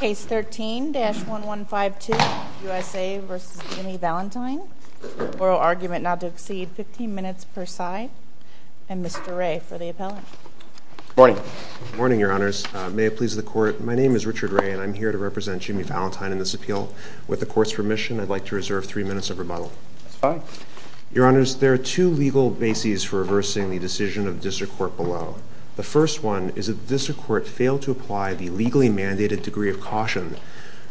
Case 13-1152, USA v. Jimmy Valentine. Oral argument not to exceed 15 minutes per side, and Mr. Ray for the appellate. Good morning. Good morning, Your Honors. May it please the Court, my name is Richard Ray and I'm here to represent Jimmy Valentine in this appeal. With the Court's permission, I'd like to reserve three minutes of rebuttal. That's fine. Your Honors, there are two legal bases for reversing the decision of the District Court below. The first one is that the District Court failed to apply the legally mandated degree of caution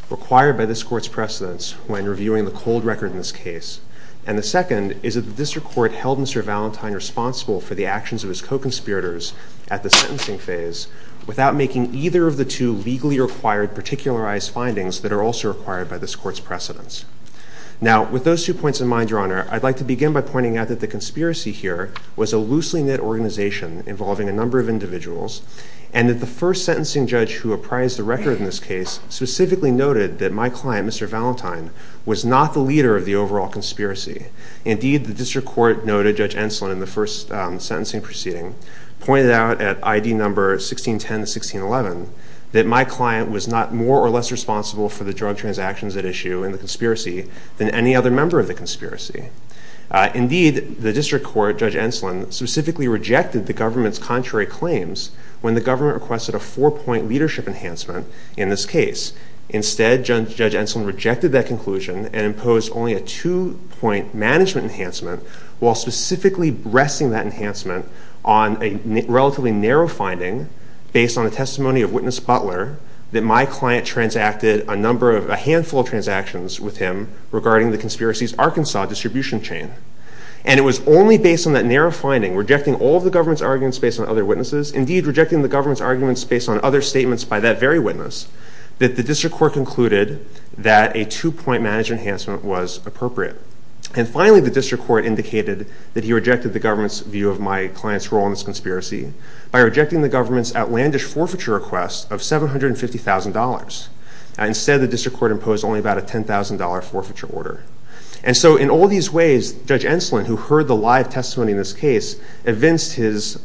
required by this Court's precedence when reviewing the cold record in this case. And the second is that the District Court held Mr. Valentine responsible for the actions of his co-conspirators at the sentencing phase without making either of the two legally required particularized findings that are also required by this Court's precedence. Now, with those two points in mind, Your Honor, I'd like to begin by pointing out that the conspiracy here was a loosely knit organization involving a number of individuals, and that the first sentencing judge who apprised the record in this case specifically noted that my client, Mr. Valentine, was not the leader of the overall conspiracy. Indeed, the District Court noted Judge Enslin in the first sentencing proceeding pointed out at ID number 1610-1611 that my client was not more or less responsible for the drug transactions at issue in the conspiracy than any other member of the conspiracy. Indeed, the District Court, Judge Enslin, specifically rejected the government's contrary claims when the government requested a four-point leadership enhancement in this case. Instead, Judge Enslin rejected that conclusion and imposed only a two-point management enhancement while specifically resting that enhancement on a relatively narrow finding based on a testimony of Witness Butler that my client transacted a handful of transactions with him regarding the conspiracy's Arkansas distribution chain. And it was only based on that narrow finding, rejecting all of the government's arguments based on other witnesses, indeed rejecting the government's arguments based on other statements by that very witness, that the District Court concluded that a two-point management enhancement was appropriate. And finally, the District Court indicated that he rejected the government's view of my client's role in this conspiracy by rejecting the government's outlandish forfeiture request of $750,000. Instead, the District Court imposed only about a $10,000 forfeiture order. And so in all these ways, Judge Enslin, who heard the live testimony in this case, evinced his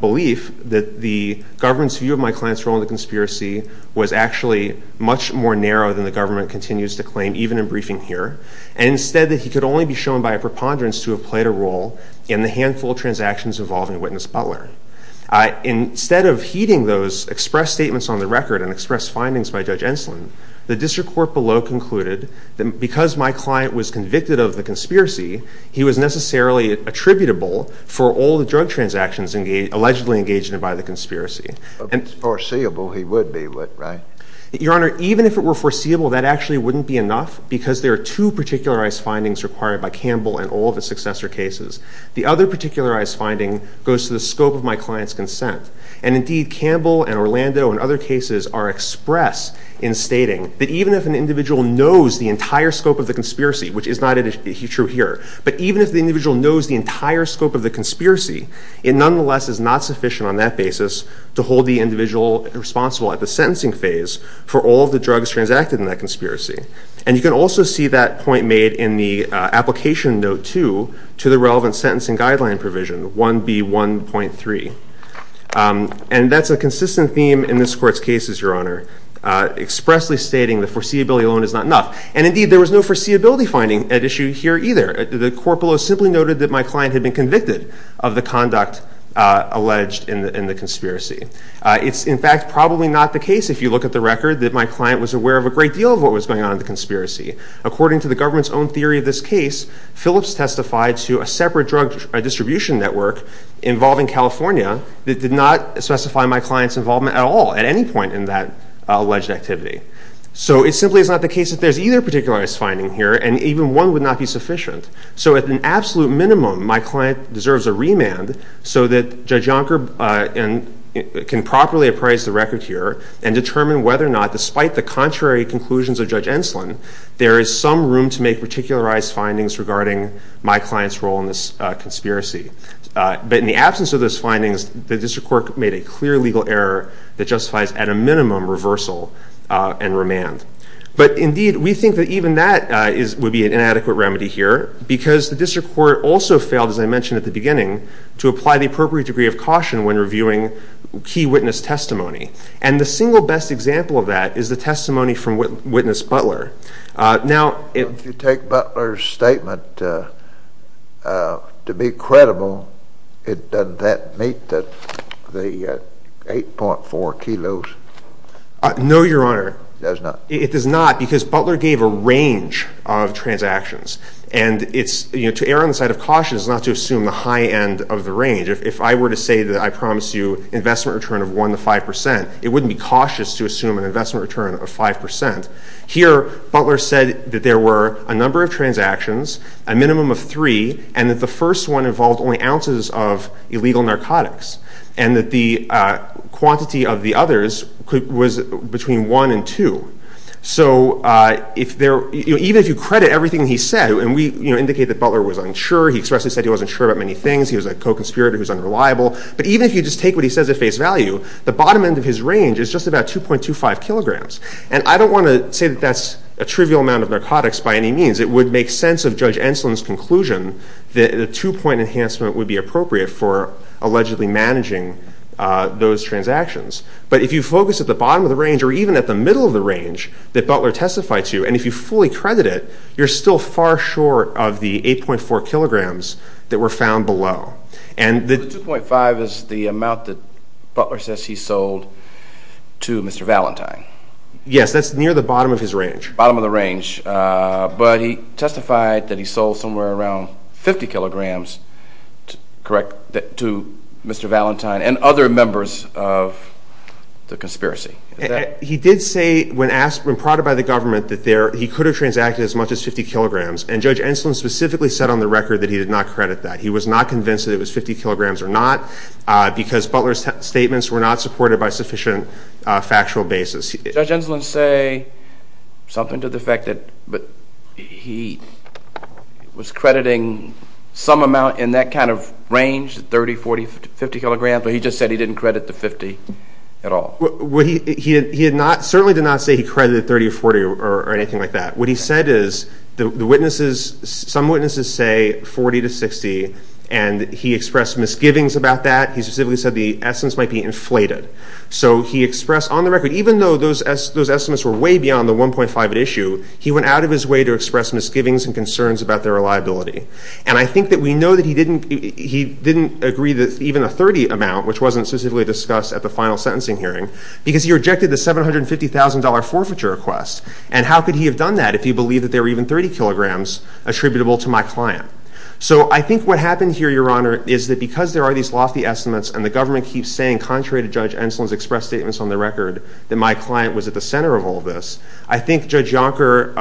belief that the government's view of my client's role in the conspiracy was actually much more narrow than the government continues to claim, even in briefing here, and instead that he could only be shown by a preponderance to have played a role in the handful of transactions involving Witness Butler. Instead of heeding those expressed statements on the record and expressed findings by Judge Enslin, the District Court below concluded that because my client was convicted of the conspiracy, he was necessarily attributable for all the drug transactions allegedly engaged in by the conspiracy. If it was foreseeable, he would be, right? Your Honor, even if it were foreseeable, that actually wouldn't be enough, because there are two particularized findings required by Campbell and all of his successor cases. The other particularized finding goes to the scope of my client's consent. And indeed, Campbell and Orlando and other cases are express in stating that even if an individual knows the entire scope of the conspiracy, which is not true here, but even if the individual knows the entire scope of the conspiracy, it nonetheless is not sufficient on that basis to hold the individual responsible at the sentencing phase for all of the drugs transacted in that conspiracy. And you can also see that point made in the application note 2 to the relevant sentencing guideline provision, 1B1.3. And that's a consistent theme in this Court's cases, Your Honor, expressly stating the foreseeability alone is not enough. And indeed, there was no foreseeability finding at issue here either. The Court below simply noted that my client had been convicted of the conduct alleged in the conspiracy. It's in fact probably not the case if you look at the record that my client was aware of a great deal of what was going on in the conspiracy. According to the government's own theory of this case, Phillips testified to a separate drug distribution network involving California that did not specify my client's involvement at all at any point in that alleged activity. So it simply is not the case that there's either particularized finding here, and even one would not be sufficient. So at an absolute minimum, my client deserves a remand so that Judge Yonker can properly appraise the record here and determine whether or not, despite the contrary conclusions of Judge Enslin, there is some room to make particularized findings regarding my client's role in this conspiracy. But in the absence of those findings, the District Court made a clear legal error that justifies at a minimum reversal and remand. But indeed, we think that even that would be an inadequate remedy here, because the District Court also failed, as I mentioned at the beginning, to apply the appropriate degree of caution when reviewing key witness testimony. And the single best example of that is the testimony from witness Butler. If you take Butler's statement to be credible, does that meet the 8.4 kilos? No, Your Honor. It does not? It does not, because Butler gave a range of transactions. And to err on the side of caution is not to assume the high end of the range. If I were to say that I promise you investment return of 1 to 5 percent, it wouldn't be cautious to assume an investment return of 5 percent. Here, Butler said that there were a number of transactions, a minimum of three, and that the first one involved only ounces of illegal narcotics, and that the quantity of the others was between one and two. So even if you credit everything he said, and we indicate that Butler was unsure, he expressly said he wasn't sure about many things, he was a co-conspirator who's unreliable, but even if you just take what he says at face value, the bottom end of his range is just about 2.25 kilograms. And I don't want to say that that's a trivial amount of narcotics by any means. It would make sense of Judge Enslin's conclusion that a two-point enhancement would be appropriate for allegedly managing those transactions. But if you focus at the bottom of the range or even at the middle of the range that Butler testified to, and if you fully credit it, you're still far short of the 8.4 kilograms that were found below. The 2.5 is the amount that Butler says he sold to Mr. Valentine. Yes, that's near the bottom of his range. Bottom of the range. But he testified that he sold somewhere around 50 kilograms to Mr. Valentine and other members of the conspiracy. He did say, when prodded by the government, that he could have transacted as much as 50 kilograms, and Judge Enslin specifically said on the record that he did not credit that. He was not convinced that it was 50 kilograms or not because Butler's statements were not supported by sufficient factual basis. Did Judge Enslin say something to the effect that he was crediting some amount in that kind of range, 30, 40, 50 kilograms, or, for example, he just said he didn't credit the 50 at all? He certainly did not say he credited 30 or 40 or anything like that. What he said is, some witnesses say 40 to 60, and he expressed misgivings about that. He specifically said the estimates might be inflated. So he expressed, on the record, even though those estimates were way beyond the 1.5 at issue, he went out of his way to express misgivings and concerns about their reliability. And I think that we know that he didn't agree that even a 30 amount, which wasn't specifically discussed at the final sentencing hearing, because he rejected the $750,000 forfeiture request. And how could he have done that if he believed that there were even 30 kilograms attributable to my client? So I think what happened here, Your Honor, is that because there are these lofty estimates and the government keeps saying, contrary to Judge Enslin's expressed statements on the record, that my client was at the center of all this, I think Judge Yonker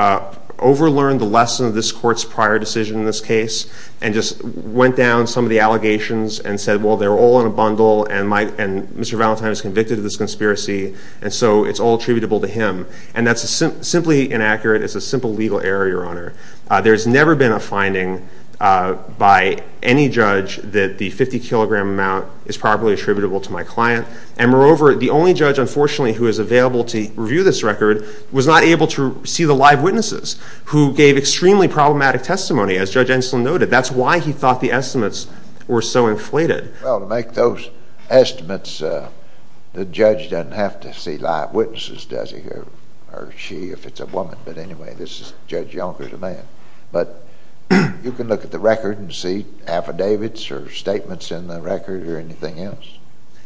overlearned the lesson of this court's prior decision in this case and just went down some of the allegations and said, well, they're all in a bundle and Mr. Valentine is convicted of this conspiracy and so it's all attributable to him. And that's simply inaccurate. It's a simple legal error, Your Honor. There's never been a finding by any judge that the 50-kilogram amount is properly attributable to my client. And moreover, the only judge, unfortunately, who is available to review this record was not able to see the live witnesses who gave extremely problematic testimony, as Judge Enslin noted. That's why he thought the estimates were so inflated. Well, to make those estimates, the judge doesn't have to see live witnesses, does he? Or she, if it's a woman. But anyway, Judge Yonker is a man. But you can look at the record and see affidavits or statements in the record or anything else,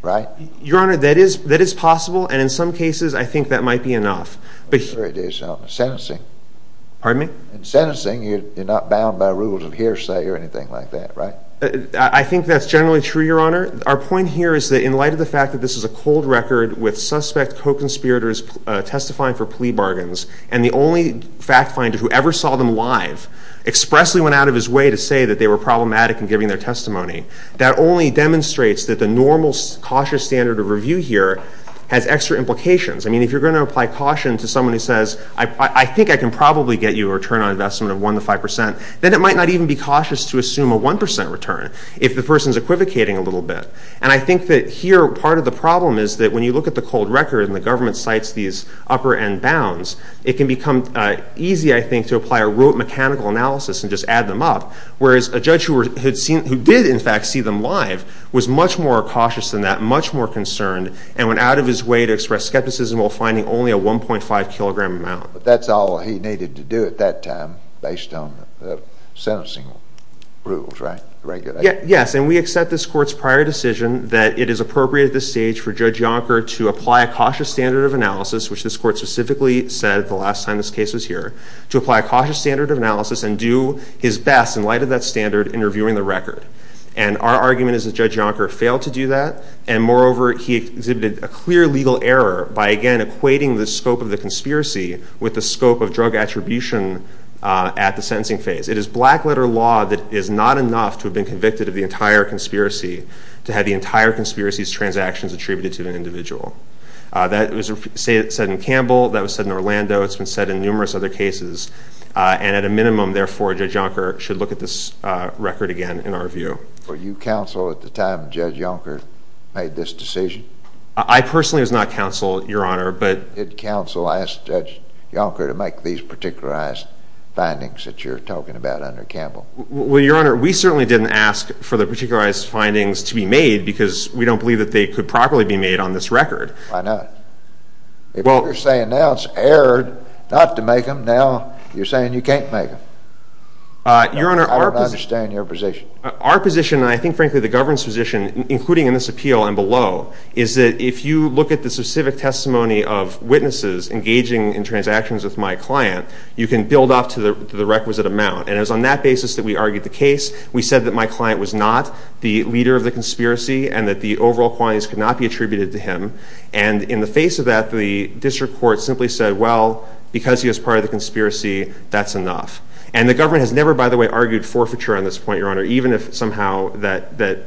right? Your Honor, that is possible, and in some cases I think that might be enough. But here it is. Sentencing. Pardon me? In sentencing, you're not bound by rules of hearsay or anything like that, right? I think that's generally true, Your Honor. Our point here is that in light of the fact that this is a cold record with suspect co-conspirators testifying for plea bargains and the only fact finder who ever saw them live expressly went out of his way to say that they were problematic in giving their testimony, that only demonstrates that the normal cautious standard of review here has extra implications. I mean, if you're going to apply caution to someone who says, I think I can probably get you a return on investment of 1 to 5 percent, then it might not even be cautious to assume a 1 percent return if the person is equivocating a little bit. And I think that here part of the problem is that when you look at the cold record and the government cites these upper-end bounds, it can become easy, I think, to apply a rote mechanical analysis and just add them up, whereas a judge who did in fact see them live was much more cautious than that, much more concerned, and went out of his way to express skepticism while finding only a 1.5 kilogram amount. But that's all he needed to do at that time based on the sentencing rules, right? Yes, and we accept this Court's prior decision that it is appropriate at this stage for Judge Yonker to apply a cautious standard of analysis, which this Court specifically said the last time this case was here, to apply a cautious standard of analysis and do his best, in light of that standard, in reviewing the record. And our argument is that Judge Yonker failed to do that, and moreover, he exhibited a clear legal error by, again, equating the scope of the conspiracy with the scope of drug attribution at the sentencing phase. It is black-letter law that is not enough to have been convicted of the entire conspiracy to have the entire conspiracy's transactions attributed to an individual. That was said in Campbell, that was said in Orlando, it's been said in numerous other cases. And at a minimum, therefore, Judge Yonker should look at this record again in our view. Were you counsel at the time Judge Yonker made this decision? I personally was not counsel, Your Honor, but— Did counsel ask Judge Yonker to make these particularized findings that you're talking about under Campbell? Well, Your Honor, we certainly didn't ask for the particularized findings to be made because we don't believe that they could properly be made on this record. Why not? Well— If you're saying now it's error not to make them, now you're saying you can't make them. Your Honor, our— I don't understand your position. Our position, and I think, frankly, the government's position, including in this appeal and below, is that if you look at the specific testimony of witnesses engaging in transactions with my client, you can build off to the requisite amount. And it was on that basis that we argued the case. We said that my client was not the leader of the conspiracy and that the overall qualities could not be attributed to him. And in the face of that, the district court simply said, well, because he was part of the conspiracy, that's enough. And the government has never, by the way, argued forfeiture on this point, Your Honor, even if somehow that there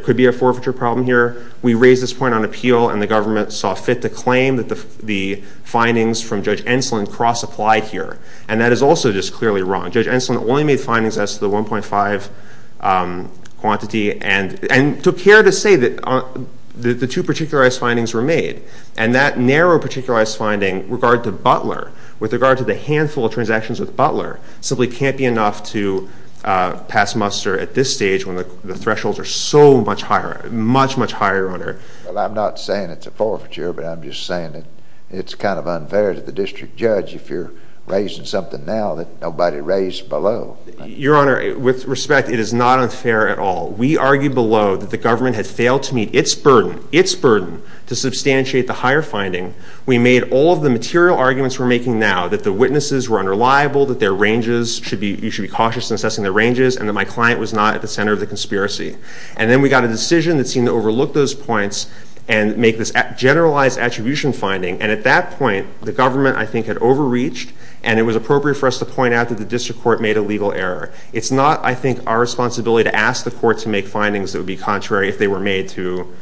could be a forfeiture problem here. We raised this point on appeal, and the government saw fit to claim that the findings from Judge Enslin cross-applied here. And that is also just clearly wrong. Judge Enslin only made findings as to the 1.5 quantity and took care to say that the two particularized findings were made. And that narrow particularized finding with regard to Butler, with regard to the handful of transactions with Butler, simply can't be enough to pass muster at this stage when the thresholds are so much higher, much, much higher, Your Honor. Well, I'm not saying it's a forfeiture, but I'm just saying that it's kind of unfair to the district judge if you're raising something now that nobody raised below. Your Honor, with respect, it is not unfair at all. We argued below that the government had failed to meet its burden, its burden, to substantiate the higher finding. We made all of the material arguments we're making now that the witnesses were unreliable, that their ranges should be, you should be cautious in assessing their ranges, and that my client was not at the center of the conspiracy. And then we got a decision that seemed to overlook those points and make this generalized attribution finding. And at that point, the government, I think, had overreached, and it was appropriate for us to point out that the district court made a legal error. It's not, I think, our responsibility to ask the court to make findings that would be contrary if they were made to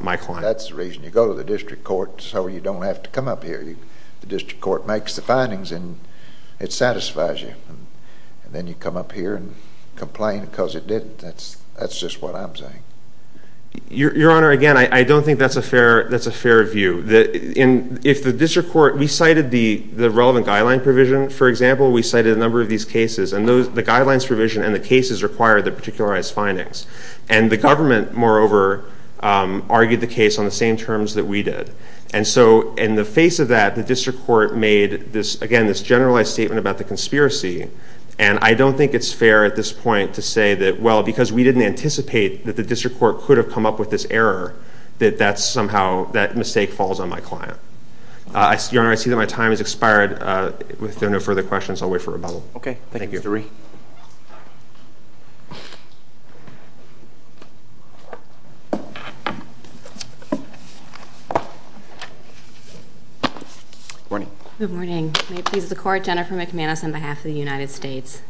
my client. That's the reason you go to the district court so you don't have to come up here. The district court makes the findings, and it satisfies you. And then you come up here and complain because it didn't. That's just what I'm saying. Your Honor, again, I don't think that's a fair view. If the district court, we cited the relevant guideline provision. For example, we cited a number of these cases, and the guidelines provision and the cases require the particularized findings. And the government, moreover, argued the case on the same terms that we did. And so in the face of that, the district court made, again, this generalized statement about the conspiracy. And I don't think it's fair at this point to say that, well, because we didn't anticipate that the district court could have come up with this error, that somehow that mistake falls on my client. Your Honor, I see that my time has expired. If there are no further questions, I'll wait for rebuttal. Okay. Thank you. Good morning. Good morning. May it please the Court, Jennifer McManus on behalf of the United States.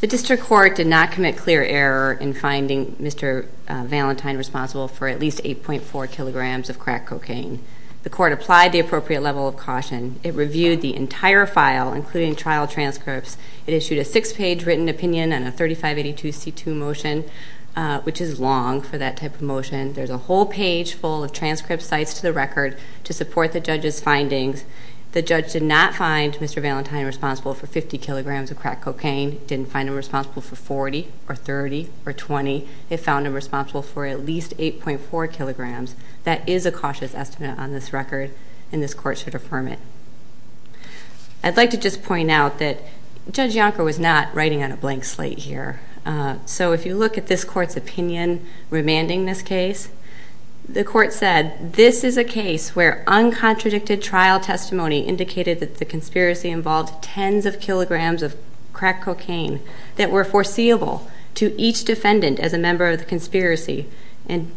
The district court did not commit clear error in finding Mr. Valentine responsible for at least 8.4 kilograms of crack cocaine. The court applied the appropriate level of caution. It reviewed the entire file, including trial transcripts. It issued a six-page written opinion and a 3582C2 motion, which is long for that type of motion. There's a whole page full of transcript sites to the record to support the judge's findings. The judge did not find Mr. Valentine responsible for 50 kilograms of crack cocaine. He didn't find him responsible for 40 or 30 or 20. He found him responsible for at least 8.4 kilograms. That is a cautious estimate on this record, and this court should affirm it. I'd like to just point out that Judge Yonker was not writing on a blank slate here. So if you look at this court's opinion remanding this case, the court said this is a case where uncontradicted trial testimony indicated that the conspiracy involved tens of kilograms of crack cocaine that were foreseeable to each defendant as a member of the conspiracy. And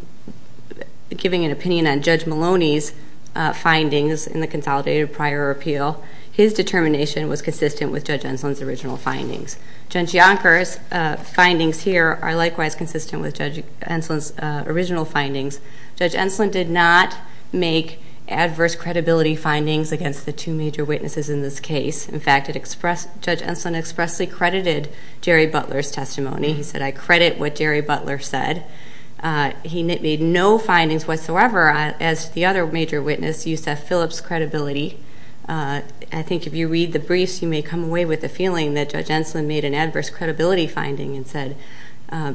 giving an opinion on Judge Maloney's findings in the consolidated prior appeal, his determination was consistent with Judge Enslin's original findings. Judge Yonker's findings here are likewise consistent with Judge Enslin's original findings. Judge Enslin did not make adverse credibility findings against the two major witnesses in this case. In fact, Judge Enslin expressly credited Jerry Butler's testimony. He said, I credit what Jerry Butler said. He made no findings whatsoever as to the other major witness, Yusef Phillips' credibility. I think if you read the briefs, you may come away with the feeling that Judge Enslin made an adverse credibility finding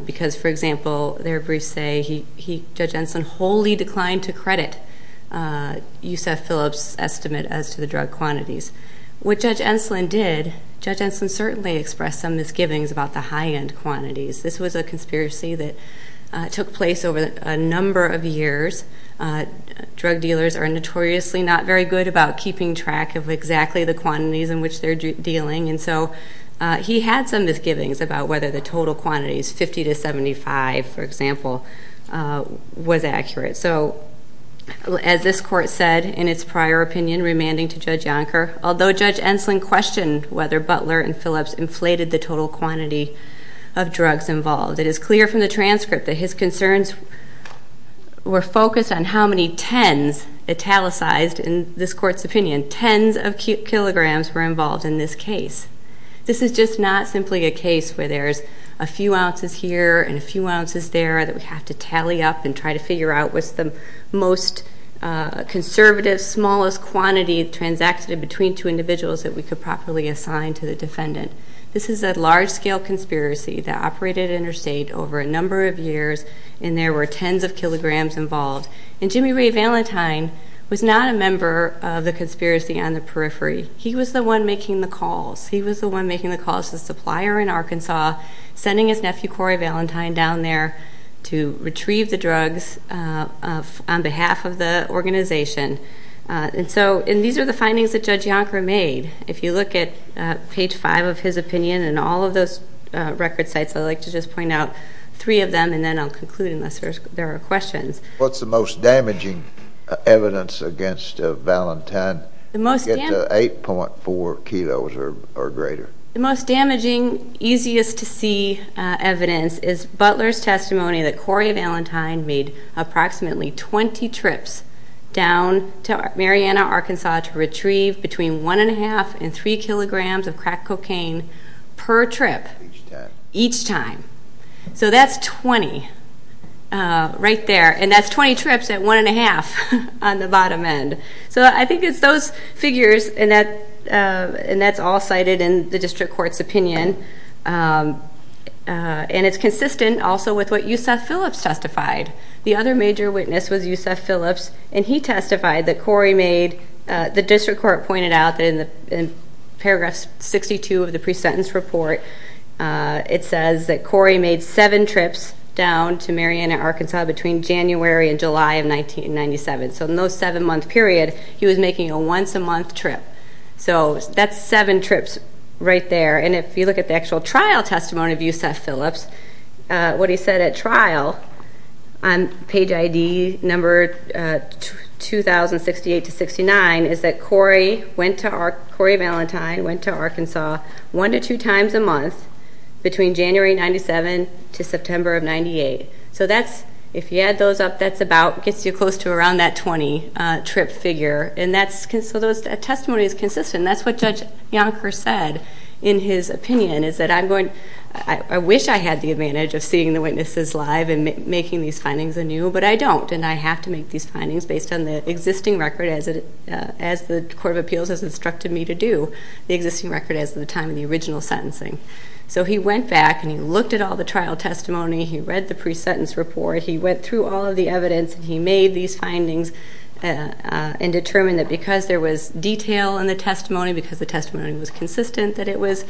because, for example, their briefs say Judge Enslin wholly declined to credit Yusef Phillips' estimate as to the drug quantities. What Judge Enslin did, Judge Enslin certainly expressed some misgivings about the high-end quantities. This was a conspiracy that took place over a number of years. Drug dealers are notoriously not very good about keeping track of exactly the quantities in which they're dealing. And so he had some misgivings about whether the total quantities, 50 to 75, for example, was accurate. So as this court said in its prior opinion, remanding to Judge Yonker, although Judge Enslin questioned whether Butler and Phillips inflated the total quantity of drugs involved, it is clear from the transcript that his concerns were focused on how many tens, italicized in this court's opinion, tens of kilograms were involved in this case. This is just not simply a case where there's a few ounces here and a few ounces there that we have to tally up and try to figure out what's the most conservative, smallest quantity transacted between two individuals that we could properly assign to the defendant. This is a large-scale conspiracy that operated interstate over a number of years, and there were tens of kilograms involved. And Jimmy Ray Valentine was not a member of the conspiracy on the periphery. He was the one making the calls. He was the one making the calls to the supplier in Arkansas, sending his nephew Cory Valentine down there to retrieve the drugs on behalf of the organization. And so these are the findings that Judge Yonker made. If you look at page 5 of his opinion and all of those record sites, I'd like to just point out three of them, and then I'll conclude unless there are questions. What's the most damaging evidence against Valentine to get to 8.4 kilos or greater? The most damaging, easiest-to-see evidence is Butler's testimony that Cory Valentine made approximately 20 trips down to Marianna, Arkansas, to retrieve between one and a half and three kilograms of crack cocaine per trip. Each time. Each time. So that's 20 right there, and that's 20 trips at one and a half on the bottom end. So I think it's those figures, and that's all cited in the district court's opinion, and it's consistent also with what Yusef Phillips testified. The other major witness was Yusef Phillips, and he testified that Cory made the district court pointed out in Paragraph 62 of the pre-sentence report. It says that Cory made seven trips down to Marianna, Arkansas, between January and July of 1997. So in those seven-month period, he was making a once-a-month trip. So that's seven trips right there, and if you look at the actual trial testimony of Yusef Phillips, what he said at trial on page ID number 2068-69 is that Cory Valentine went to Arkansas one to two times a month between January of 1997 to September of 1998. So that's, if you add those up, that's about, gets you close to around that 20-trip figure, and so that testimony is consistent, and that's what Judge Yonker said in his opinion, is that I wish I had the advantage of seeing the witnesses live and making these findings anew, but I don't, and I have to make these findings based on the existing record as the Court of Appeals has instructed me to do, the existing record as of the time of the original sentencing. So he went back, and he looked at all the trial testimony. He read the pre-sentence report. He went through all of the evidence, and he made these findings and determined that because there was detail in the testimony, because the testimony was consistent, that it was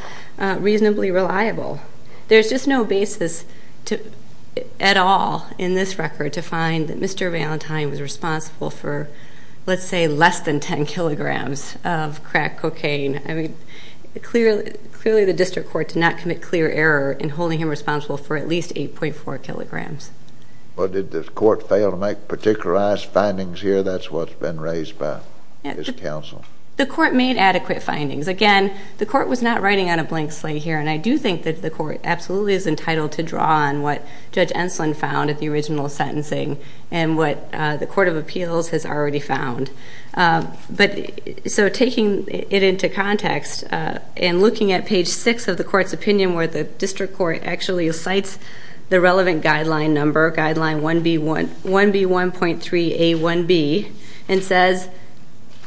reasonably reliable. There's just no basis at all in this record to find that Mr. Valentine was responsible for, let's say, less than 10 kilograms of crack cocaine. I mean, clearly the district court did not commit clear error in holding him responsible for at least 8.4 kilograms. Well, did the court fail to make particularized findings here? That's what's been raised by this counsel. The court made adequate findings. Again, the court was not writing on a blank slate here, and I do think that the court absolutely is entitled to draw on what Judge Enslin found at the original sentencing and what the Court of Appeals has already found. So taking it into context and looking at page 6 of the court's opinion where the district court actually cites the relevant guideline number, and says,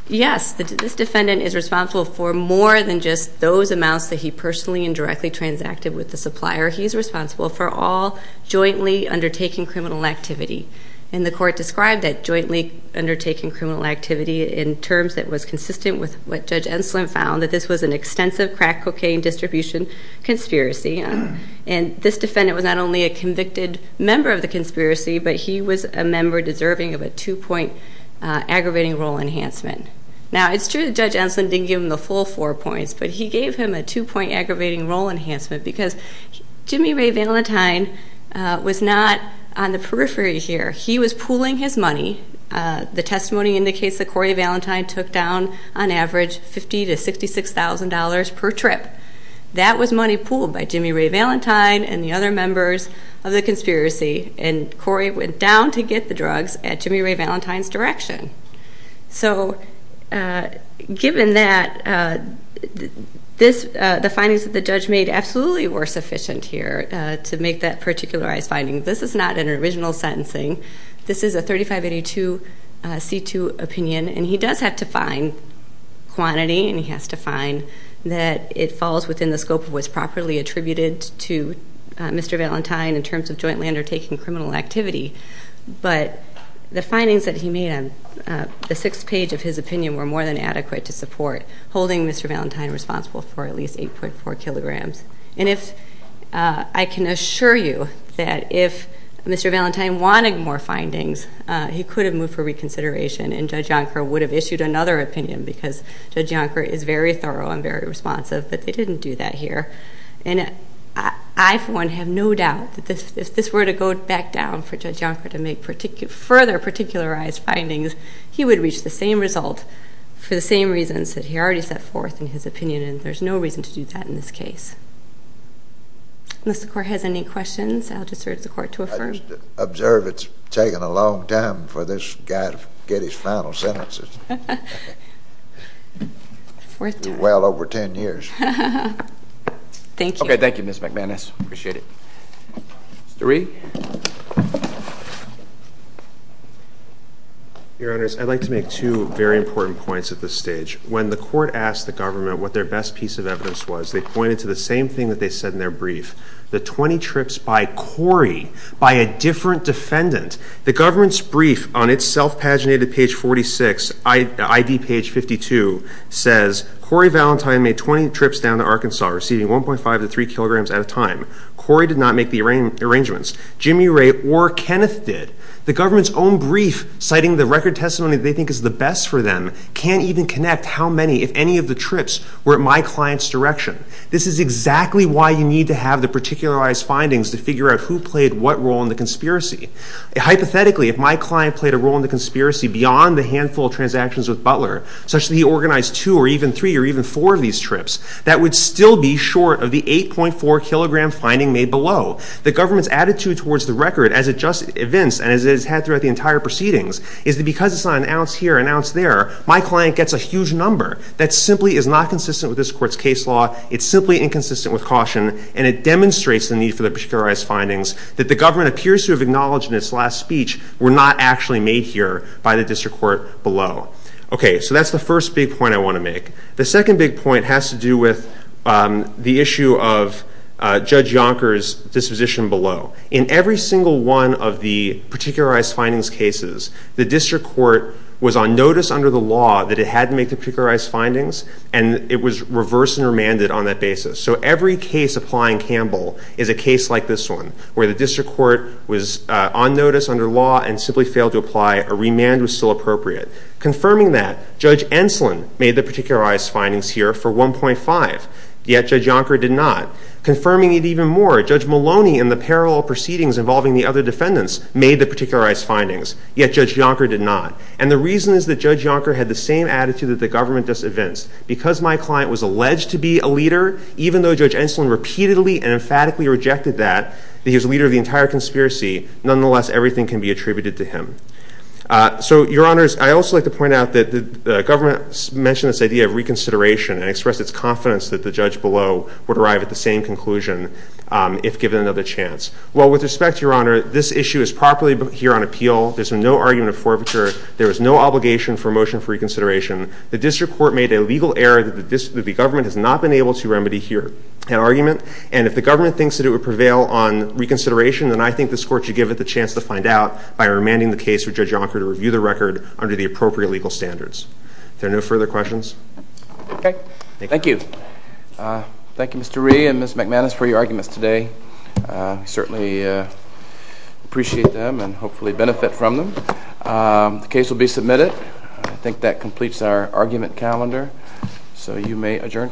yes, this defendant is responsible for more than just those amounts that he personally and directly transacted with the supplier. He's responsible for all jointly undertaking criminal activity. And the court described that jointly undertaking criminal activity in terms that was consistent with what Judge Enslin found, that this was an extensive crack cocaine distribution conspiracy. And this defendant was not only a convicted member of the conspiracy, but he was a member deserving of a two-point aggravating role enhancement. Now, it's true that Judge Enslin didn't give him the full four points, but he gave him a two-point aggravating role enhancement because Jimmy Ray Valentine was not on the periphery here. He was pooling his money. The testimony indicates that Corey Valentine took down on average $50,000 to $66,000 per trip. That was money pooled by Jimmy Ray Valentine and the other members of the conspiracy, and Corey went down to get the drugs at Jimmy Ray Valentine's direction. So given that, the findings that the judge made absolutely were sufficient here to make that particularized finding. This is not an original sentencing. This is a 3582 C2 opinion, and he does have to find quantity, and he has to find that it falls within the scope of what's properly attributed to Mr. Valentine in terms of jointly undertaking criminal activity. But the findings that he made on the sixth page of his opinion were more than adequate to support holding Mr. Valentine responsible for at least 8.4 kilograms. And I can assure you that if Mr. Valentine wanted more findings, he could have moved for reconsideration, and Judge Yonker would have issued another opinion because Judge Yonker is very thorough and very responsive, but they didn't do that here. And I, for one, have no doubt that if this were to go back down for Judge Yonker to make further particularized findings, he would reach the same result for the same reasons that he already set forth in his opinion, and there's no reason to do that in this case. Unless the Court has any questions, I'll just urge the Court to affirm. I just observe it's taken a long time for this guy to get his final sentences. Fourth time. Well over 10 years. Thank you. Okay, thank you, Ms. McManus. Appreciate it. Mr. Reed. Your Honors, I'd like to make two very important points at this stage. When the Court asked the government what their best piece of evidence was, they pointed to the same thing that they said in their brief, the 20 trips by Corey, by a different defendant. The government's brief on its self-paginated page 46, ID page 52, says, Corey Valentine made 20 trips down to Arkansas, receiving 1.5 to 3 kilograms at a time. Corey did not make the arrangements. Jimmy Ray or Kenneth did. The government's own brief, citing the record testimony they think is the best for them, can't even connect how many, if any, of the trips were at my client's direction. This is exactly why you need to have the particularized findings to figure out who played what role in the conspiracy. Hypothetically, if my client played a role in the conspiracy beyond the handful of transactions with Butler, such that he organized two or even three or even four of these trips, that would still be short of the 8.4-kilogram finding made below. The government's attitude towards the record as it just evinced and as it has had throughout the entire proceedings, is that because it's not an ounce here, an ounce there, my client gets a huge number. That simply is not consistent with this court's case law. It's simply inconsistent with caution, and it demonstrates the need for the particularized findings that the government appears to have acknowledged in its last speech were not actually made here by the district court below. Okay, so that's the first big point I want to make. The second big point has to do with the issue of Judge Yonker's disposition below. In every single one of the particularized findings cases, the district court was on notice under the law that it had to make the particularized findings, and it was reversed and remanded on that basis. So every case applying Campbell is a case like this one, where the district court was on notice under law and simply failed to apply, a remand was still appropriate. Confirming that, Judge Enslin made the particularized findings here for 1.5, yet Judge Yonker did not. Confirming it even more, Judge Maloney, in the parallel proceedings involving the other defendants, made the particularized findings, yet Judge Yonker did not. And the reason is that Judge Yonker had the same attitude that the government does at Vince. Because my client was alleged to be a leader, even though Judge Enslin repeatedly and emphatically rejected that, that he was the leader of the entire conspiracy, nonetheless everything can be attributed to him. So, Your Honors, I'd also like to point out that the government mentioned this idea of reconsideration and expressed its confidence that the judge below would arrive at the same conclusion if given another chance. Well, with respect, Your Honor, this issue is properly here on appeal. There's no argument of forfeiture. There is no obligation for a motion for reconsideration. The district court made a legal error that the government has not been able to remedy here. And if the government thinks that it would prevail on reconsideration, then I think this court should give it the chance to find out by remanding the case for Judge Yonker to review the record under the appropriate legal standards. Are there no further questions? Okay. Thank you. Thank you, Mr. Rhee and Ms. McManus, for your arguments today. We certainly appreciate them and hopefully benefit from them. The case will be submitted. I think that completes our argument calendar, so you may adjourn.